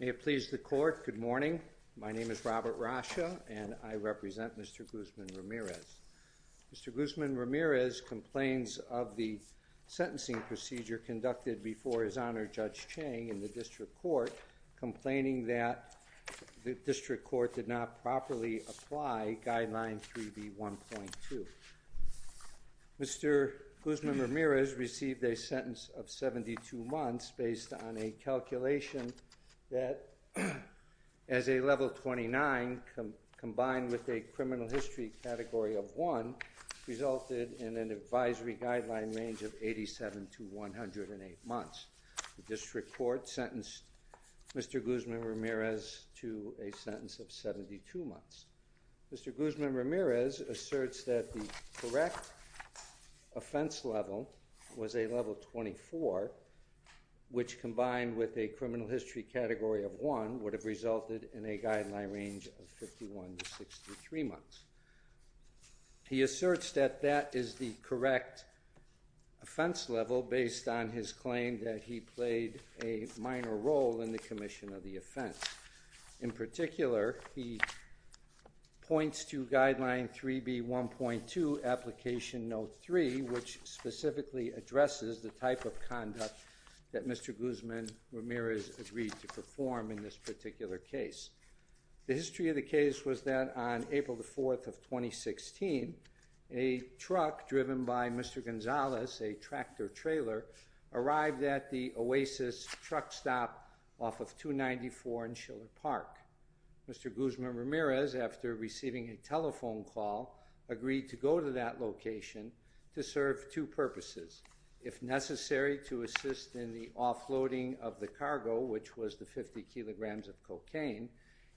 May it please the court, good morning. Good morning. My name is Robert Rasha and I represent Mr. Guzman-Ramirez. Mr. Guzman-Ramirez complains of the sentencing procedure conducted before his Honor Judge Chang in the District Court, complaining that the District Court did not properly apply Guideline 3B1.2. Mr. Guzman-Ramirez received a sentence of 72 months based on a calculation that, as a level 29 combined with a criminal history category of 1, resulted in an advisory guideline range of 87 to 108 months. The District Court sentenced Mr. Guzman-Ramirez to a sentence of 72 months. Mr. Guzman-Ramirez asserts that the correct offense level was a level 24, which combined with a criminal history category of 1, would have resulted in a guideline range of 51 to 63 months. He asserts that that is the correct offense level based on his claim that he played a minor role in the commission of the offense. In particular, he points to Guideline 3B1.2 Application Note 3, which specifically addresses the type of conduct that Mr. Guzman-Ramirez agreed to perform in this particular case. The history of the case was that on April the 4th of 2016, a truck driven by Mr. Gonzalez, a tractor-trailer, arrived at the Oasis truck stop off of 294 in Schiller Park. Mr. Guzman-Ramirez, after receiving a telephone call, agreed to go to that location to serve two purposes. If necessary, to assist in the offloading of the cargo, which was the 50 kilograms of cocaine,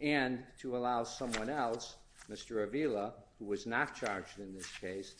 and to allow someone else, Mr. Avila, who was not charged in this case,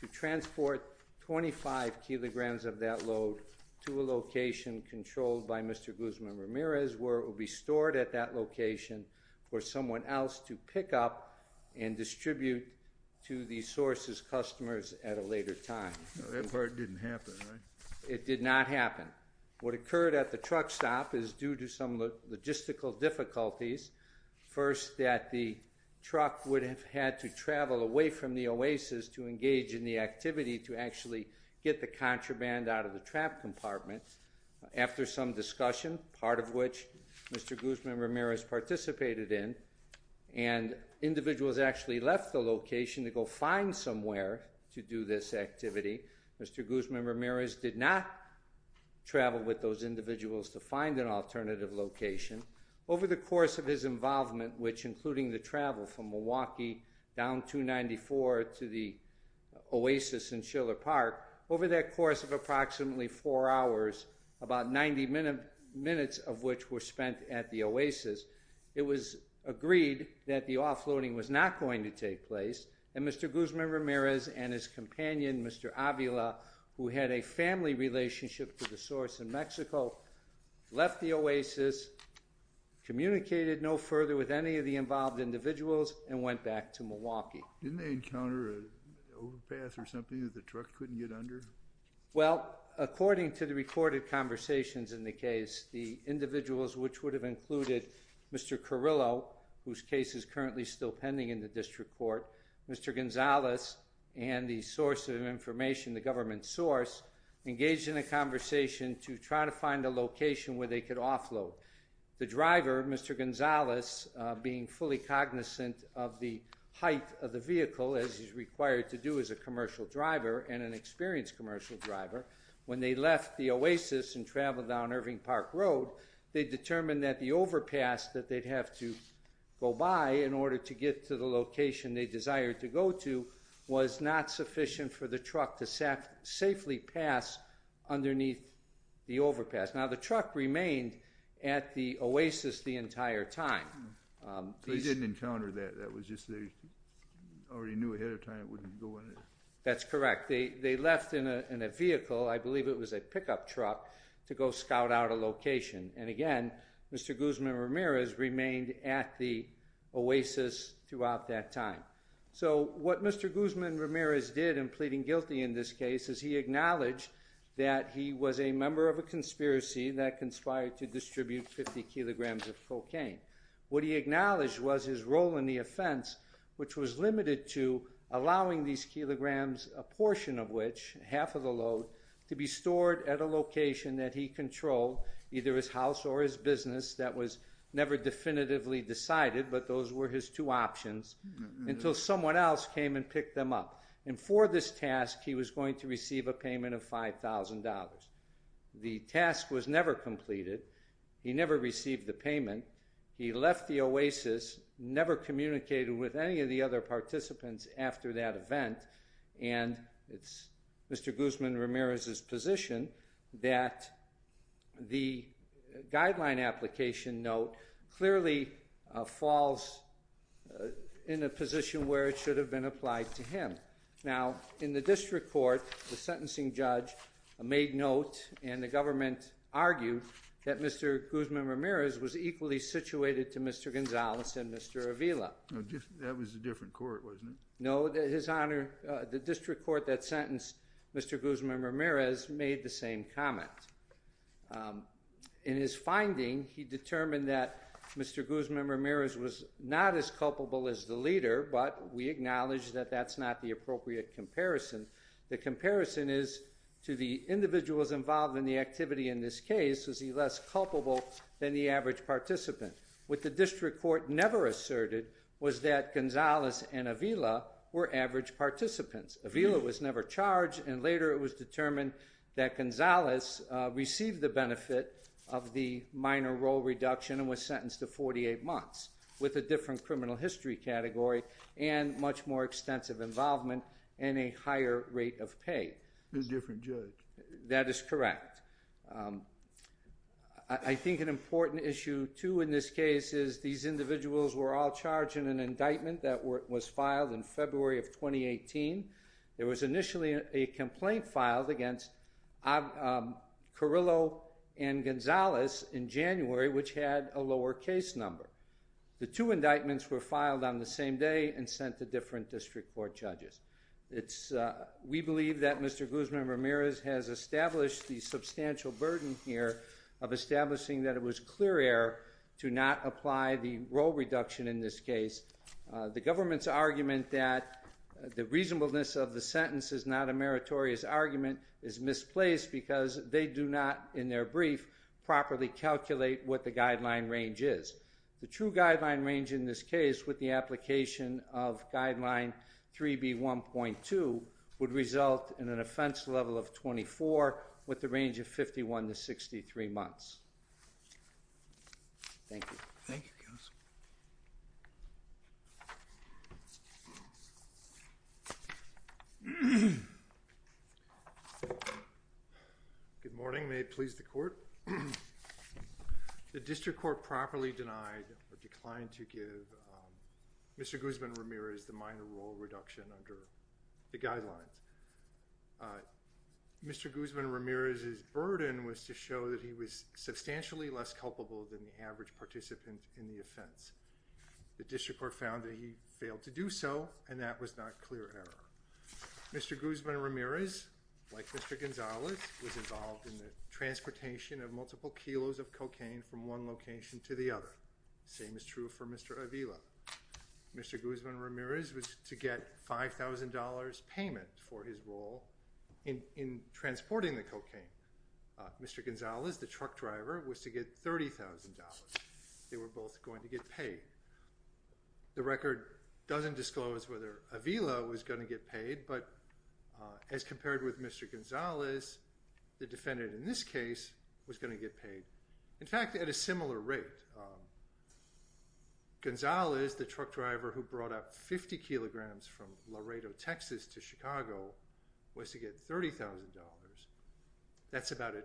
to transport 25 kilograms of that load to a location controlled by Mr. Guzman-Ramirez, where it will be stored at that location for someone else to pick up and distribute to the source's customers at a later time. That part didn't happen, right? It did not happen. What occurred at the truck stop is due to some logistical difficulties. First, that the truck would have had to travel away from the Oasis to engage in the activity to actually get the contraband out of the trap compartment. After some discussion, part of which Mr. Guzman-Ramirez participated in, and individuals actually left the location to go find somewhere to do this activity, Mr. Guzman-Ramirez did not travel with those individuals to find an alternative location. Over the course of his involvement, which including the travel from Milwaukee down 294 to the Oasis in Schiller Park, over that course of approximately four hours, about 90 minutes of which were spent at the Oasis, it was agreed that the offloading was not going to take place, and Mr. Guzman-Ramirez and his companion, Mr. Avila, who had a family relationship to the source in Mexico, left the Oasis, communicated no further with any of the involved individuals, and went back to Milwaukee. Didn't they encounter an overpass or something that the truck couldn't get under? Well, according to the recorded conversations in the case, the individuals which would have included Mr. Carrillo, whose case is currently still pending in the district court, Mr. Gonzalez, and the source of information, the government source, engaged in a conversation to try to find a location where they could offload. The driver, Mr. Gonzalez, being fully cognizant of the height of the vehicle, as he's required to do as a commercial driver, and an experienced commercial driver, when they left the Oasis and traveled down Irving Park Road, they determined that the overpass that they'd have to go by in order to get to the location they desired to go to was not sufficient for the truck to safely pass underneath the overpass. Now, the truck remained at the Oasis the entire time. So they didn't encounter that, that was just they already knew ahead of time it wouldn't go in there? That's correct. They left in a vehicle, I believe it was a pickup truck, to go scout out a location. And again, Mr. Guzman-Ramirez remained at the Oasis throughout that time. So what Mr. Guzman-Ramirez did in pleading guilty in this case is he acknowledged that he was a member of a conspiracy that conspired to distribute 50 kilograms of cocaine. What he acknowledged was his role in the offense, which was limited to allowing these kilograms, a portion of which, half of the load, to be stored at a location that he controlled, either his house or his business, that was never definitively decided, but those were his two options, until someone else came and picked them up. And for this task, he was going to receive a payment of $5,000. The task was never completed, he never received the payment, he left the Oasis, never communicated with any of the other participants after that event, and it's Mr. Guzman-Ramirez's position that the guideline application note clearly falls in a position where it should have been applied to him. Now, in the district court, the sentencing judge made note, and the government argued, that Mr. Guzman-Ramirez was equally situated to Mr. Gonzalez and Mr. Avila. That was a different court, wasn't it? No, His Honor, the district court that sentenced Mr. Guzman-Ramirez made the same comment. In his finding, he determined that Mr. Guzman-Ramirez was not as culpable as the leader, but we acknowledged that that's not the appropriate comparison. The comparison is, to the individuals involved in the activity in this case, was he less culpable than the average participant? What the district court never asserted was that Gonzalez and Avila were average participants. Avila was never charged, and later it was determined that Gonzalez received the benefit of the minor role reduction and was sentenced to 48 months, with a different criminal history category and much more extensive involvement and a higher rate of pay. A different judge. That is correct. I think an important issue, too, in this case is, these individuals were all charged in an indictment that was filed in February of 2018. There was initially a complaint filed against Carrillo and Gonzalez in January, which had a lower case number. The two indictments were filed on the same day and sent to different district court judges. We believe that Mr. Guzman-Ramirez has established the substantial burden here of establishing that it was clear error to not apply the role reduction in this case. The government's argument that the reasonableness of the sentence is not a meritorious argument is misplaced because they do not, in their brief, properly calculate what the guideline range is. The true guideline range in this case with the application of Guideline 3B1.2 would result in an offense level of 24 with a range of 51 to 63 months. Thank you. Good morning. May it please the Court? The district court properly denied or declined to give Mr. Guzman-Ramirez the minor role reduction under the guidelines. Mr. Guzman-Ramirez's burden was to show that he was substantially less culpable than the average participant in the offense. The district court found that he failed to do so and that was not clear error. Mr. Guzman-Ramirez, like Mr. Gonzalez, was involved in the transportation of multiple kilos of cocaine from one location to the other. The same is true for Mr. Avila. Mr. Guzman-Ramirez was to get $5,000 payment for his role in transporting the cocaine. Mr. Gonzalez, the truck driver, was to get $30,000. They were both going to get paid. The record doesn't disclose whether Avila was going to get paid, but as compared with Mr. Gonzalez, the defendant in this case was going to get paid. In fact, at a similar rate. Gonzalez, the truck driver who brought up 50 kilograms from Laredo, Texas to Chicago, was to get $30,000. That's about a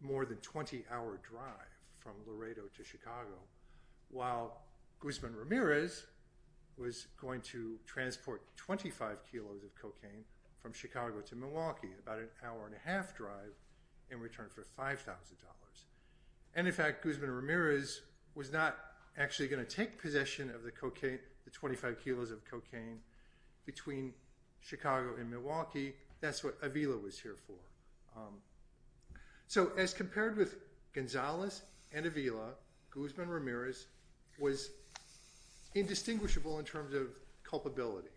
more than 20-hour drive from Laredo to Chicago. While Guzman-Ramirez was going to transport 25 kilos of cocaine from Chicago to Milwaukee about an hour and a half drive in return for $5,000. In fact, Guzman-Ramirez was not actually going to take possession of the 25 kilos of cocaine between Chicago and Milwaukee. That's what Avila was here for. As compared with Gonzalez and Avila, Guzman-Ramirez was indistinguishable in terms of culpability.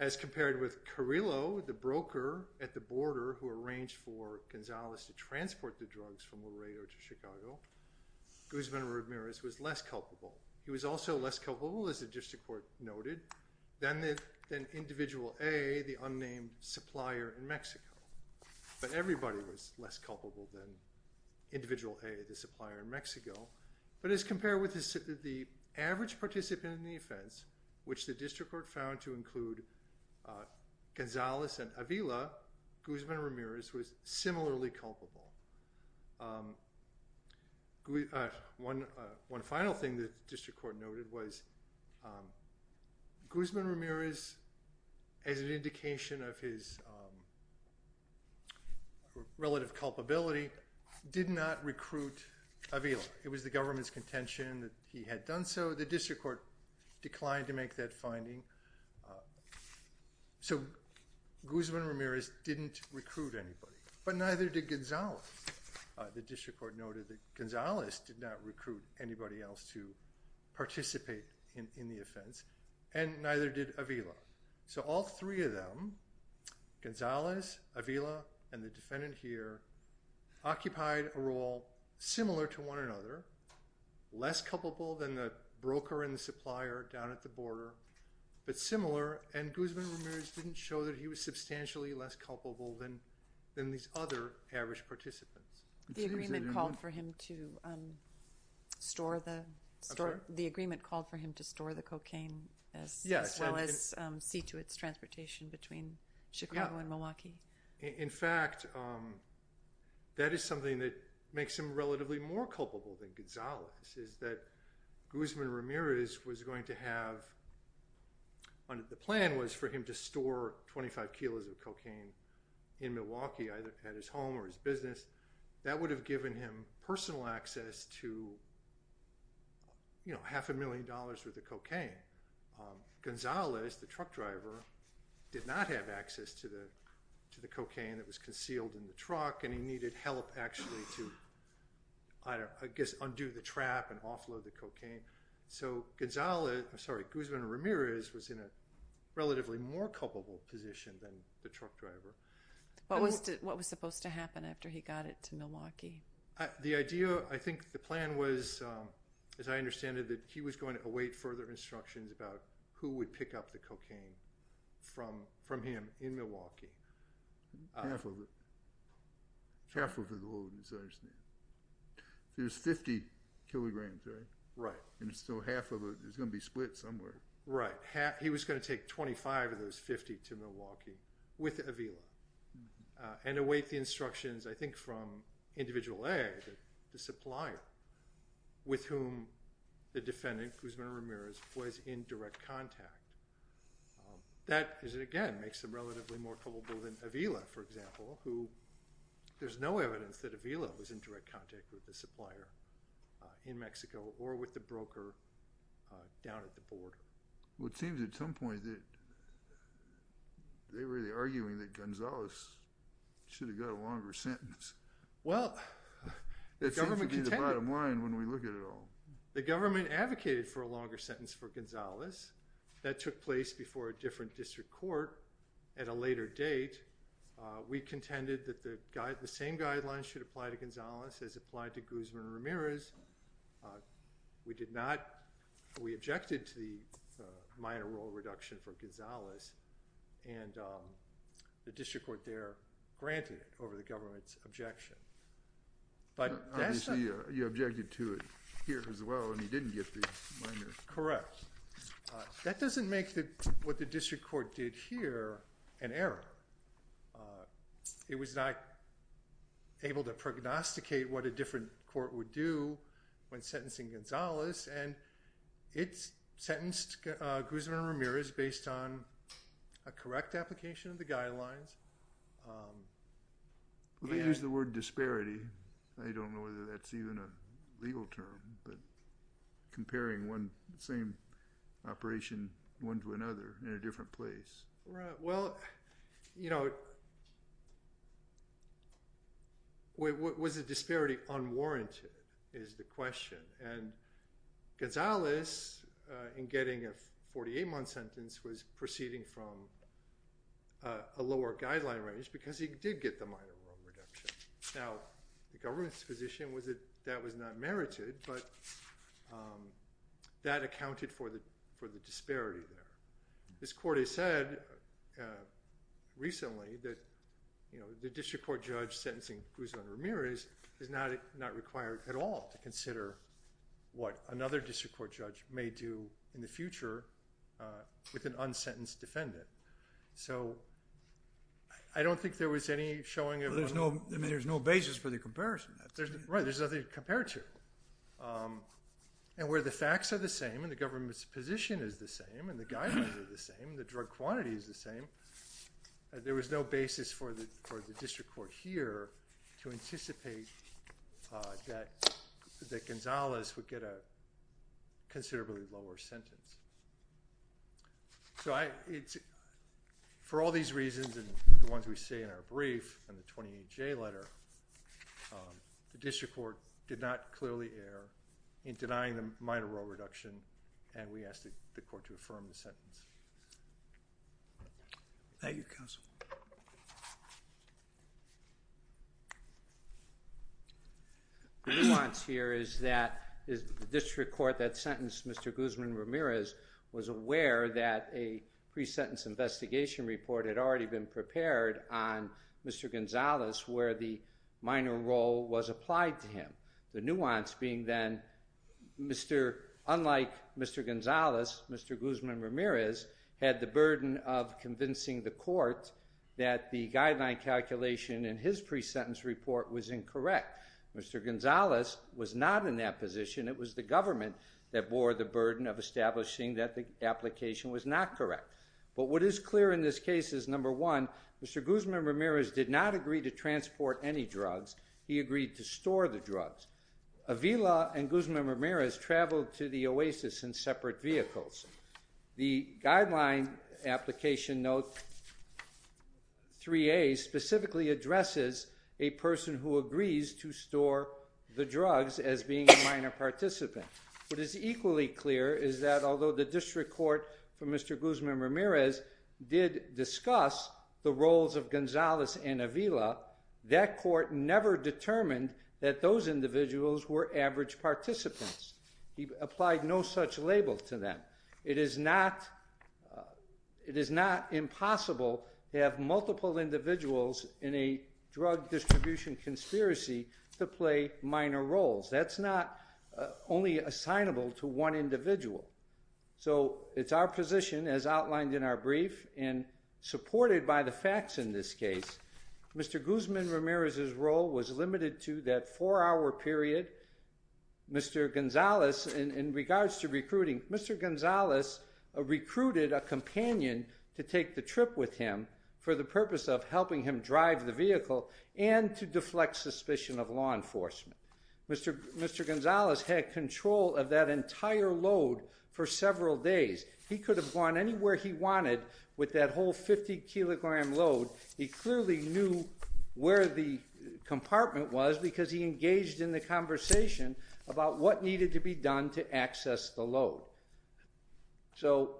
As compared with Carrillo, the broker at the border who arranged for Gonzalez to transport the drugs from Laredo to Chicago, Guzman-Ramirez was less culpable. He was also less culpable, as the district court noted, than Individual A, the unnamed supplier in Mexico. But everybody was less culpable than Individual A, the supplier in Mexico. But as compared with the average participant in the offense, which the district court found to include Gonzalez and Avila, Guzman-Ramirez was similarly culpable. One final thing the district court noted was Guzman-Ramirez, as an indication of his relative culpability, did not recruit Avila. It was the government's contention that he had done so. The district court declined to make that finding. So Guzman-Ramirez didn't recruit anybody, but neither did Gonzalez. The district court noted that Gonzalez did not recruit anybody else to participate in the offense, and neither did Avila. So all three of them, Gonzalez, Avila, and the defendant here, occupied a role similar to one another, less culpable than the broker and the supplier down at the border, but similar, and Guzman-Ramirez didn't show that he was substantially less culpable than these other average participants. The agreement called for him to store the cocaine as well as see to its transportation between Chicago and Milwaukee. In fact, that is something that makes him relatively more culpable than Gonzalez, is that Guzman-Ramirez was going to have, the plan was for him to store 25 kilos of cocaine in Milwaukee, either at his home or his business. That would have given him personal access to, you know, half a million dollars worth of cocaine. Gonzalez, the truck driver, did not have access to the cocaine that was concealed in the truck and he needed help actually to, I guess, undo the trap and offload the cocaine. So Gonzalez, I'm sorry, Guzman-Ramirez was in a relatively more culpable position than the truck driver. What was supposed to happen after he got it to Milwaukee? The idea, I think the plan was, as I understand it, that he was going to await further instructions about who would pick up the cocaine from him in Milwaukee. Half of it. Half of it will go to Gonzalez. There's 50 kilograms, right? Right. And so half of it is going to be split somewhere. Right. He was going to take 25 of those 50 to Milwaukee with Avila and await the instructions, I think, from Individual A, the supplier, with whom the defendant, Guzman-Ramirez, was in direct contact. That, again, makes him relatively more culpable than Avila, for example, who there's no evidence that Avila was in direct contact with the supplier in Mexico or with the broker down at the border. Well, it seems at some point that they were really arguing that Gonzalez should have got a longer sentence. Well, the government contended— It seems to be the bottom line when we look at it all. The government advocated for a longer sentence for Gonzalez. That took place before a different district court at a later date. We contended that the same guidelines should apply to Gonzalez as applied to Guzman-Ramirez. We objected to the minor rule reduction for Gonzalez, and the district court there granted it over the government's objection. Obviously, you objected to it here as well, and you didn't get the minor— Correct. That doesn't make what the district court did here an error. It was not able to prognosticate what a different court would do when sentencing Gonzalez, and it sentenced Guzman-Ramirez based on a correct application of the guidelines. They used the word disparity. I don't know whether that's even a legal term, but comparing one same operation, one to another in a different place. Well, you know, was the disparity unwarranted is the question. And Gonzalez, in getting a 48-month sentence, was proceeding from a lower guideline range because he did get the minor rule reduction. Now, the government's position was that that was not merited, but that accounted for the disparity there. This court has said recently that the district court judge sentencing Guzman-Ramirez is not required at all to consider what another district court judge may do in the future with an unsentenced defendant. So I don't think there was any showing of— I mean, there's no basis for the comparison. Right. There's nothing to compare to. And where the facts are the same, and the government's position is the same, and the guidelines are the same, and the drug quantity is the same, there was no basis for the district court here to anticipate that Gonzalez would get a considerably lower sentence. For all these reasons, and the ones we say in our brief and the 28J letter, the district court did not clearly err in denying the minor rule reduction, and we ask the court to affirm the sentence. Thank you, counsel. The nuance here is that the district court that sentenced Mr. Guzman-Ramirez was aware that a pre-sentence investigation report had already been prepared on Mr. Gonzalez where the minor rule was applied to him. The nuance being then, unlike Mr. Gonzalez, Mr. Guzman-Ramirez had the burden of convincing the court that the guideline calculation in his pre-sentence report was incorrect. Mr. Gonzalez was not in that position. It was the government that bore the burden of establishing that the application was not correct. But what is clear in this case is, number one, Mr. Guzman-Ramirez did not agree to transport any drugs. He agreed to store the drugs. Avila and Guzman-Ramirez traveled to the Oasis in separate vehicles. The guideline application, note 3A, specifically addresses a person who agrees to store the drugs as being a minor participant. What is equally clear is that, although the district court for Mr. Guzman-Ramirez did discuss the roles of Gonzalez and Avila, that court never determined that those individuals were average participants. He applied no such label to them. It is not impossible to have multiple individuals in a drug distribution conspiracy to play minor roles. That's not only assignable to one individual. So it's our position, as outlined in our brief, and supported by the facts in this case, Mr. Guzman-Ramirez's role was limited to that four-hour period. Mr. Gonzalez, in regards to recruiting, Mr. Gonzalez recruited a companion to take the trip with him for the purpose of helping him drive the vehicle and to deflect suspicion of law enforcement. Mr. Gonzalez had control of that entire load for several days. He could have gone anywhere he wanted with that whole 50-kilogram load. He clearly knew where the compartment was because he engaged in the conversation about what needed to be done to access the load. So,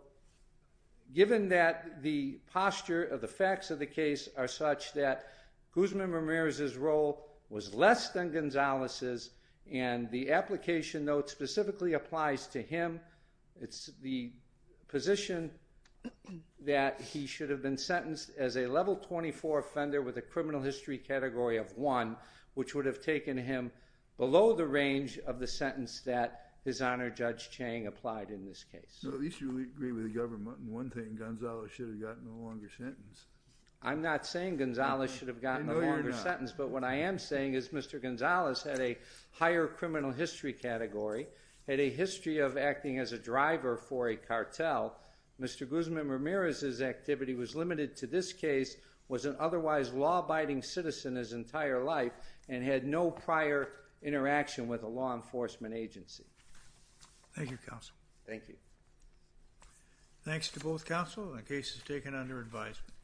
given that the posture of the facts of the case are such that Guzman-Ramirez's role was less than Gonzalez's, and the application note specifically applies to him, it's the position that he should have been sentenced as a level 24 offender with a criminal history category of 1, which would have taken him below the range of the sentence that His Honor Judge Chang applied in this case. At least you agree with the government. One thing, Gonzalez should have gotten a longer sentence. I'm not saying Gonzalez should have gotten a longer sentence, but what I am saying is Mr. Gonzalez had a higher criminal history category, had a history of acting as a driver for a cartel. Mr. Guzman-Ramirez's activity was limited to this case, was an otherwise law-abiding citizen his entire life, and had no prior interaction with a law enforcement agency. Thank you, counsel. Thank you. Thanks to both counsel. The case is taken under advisement.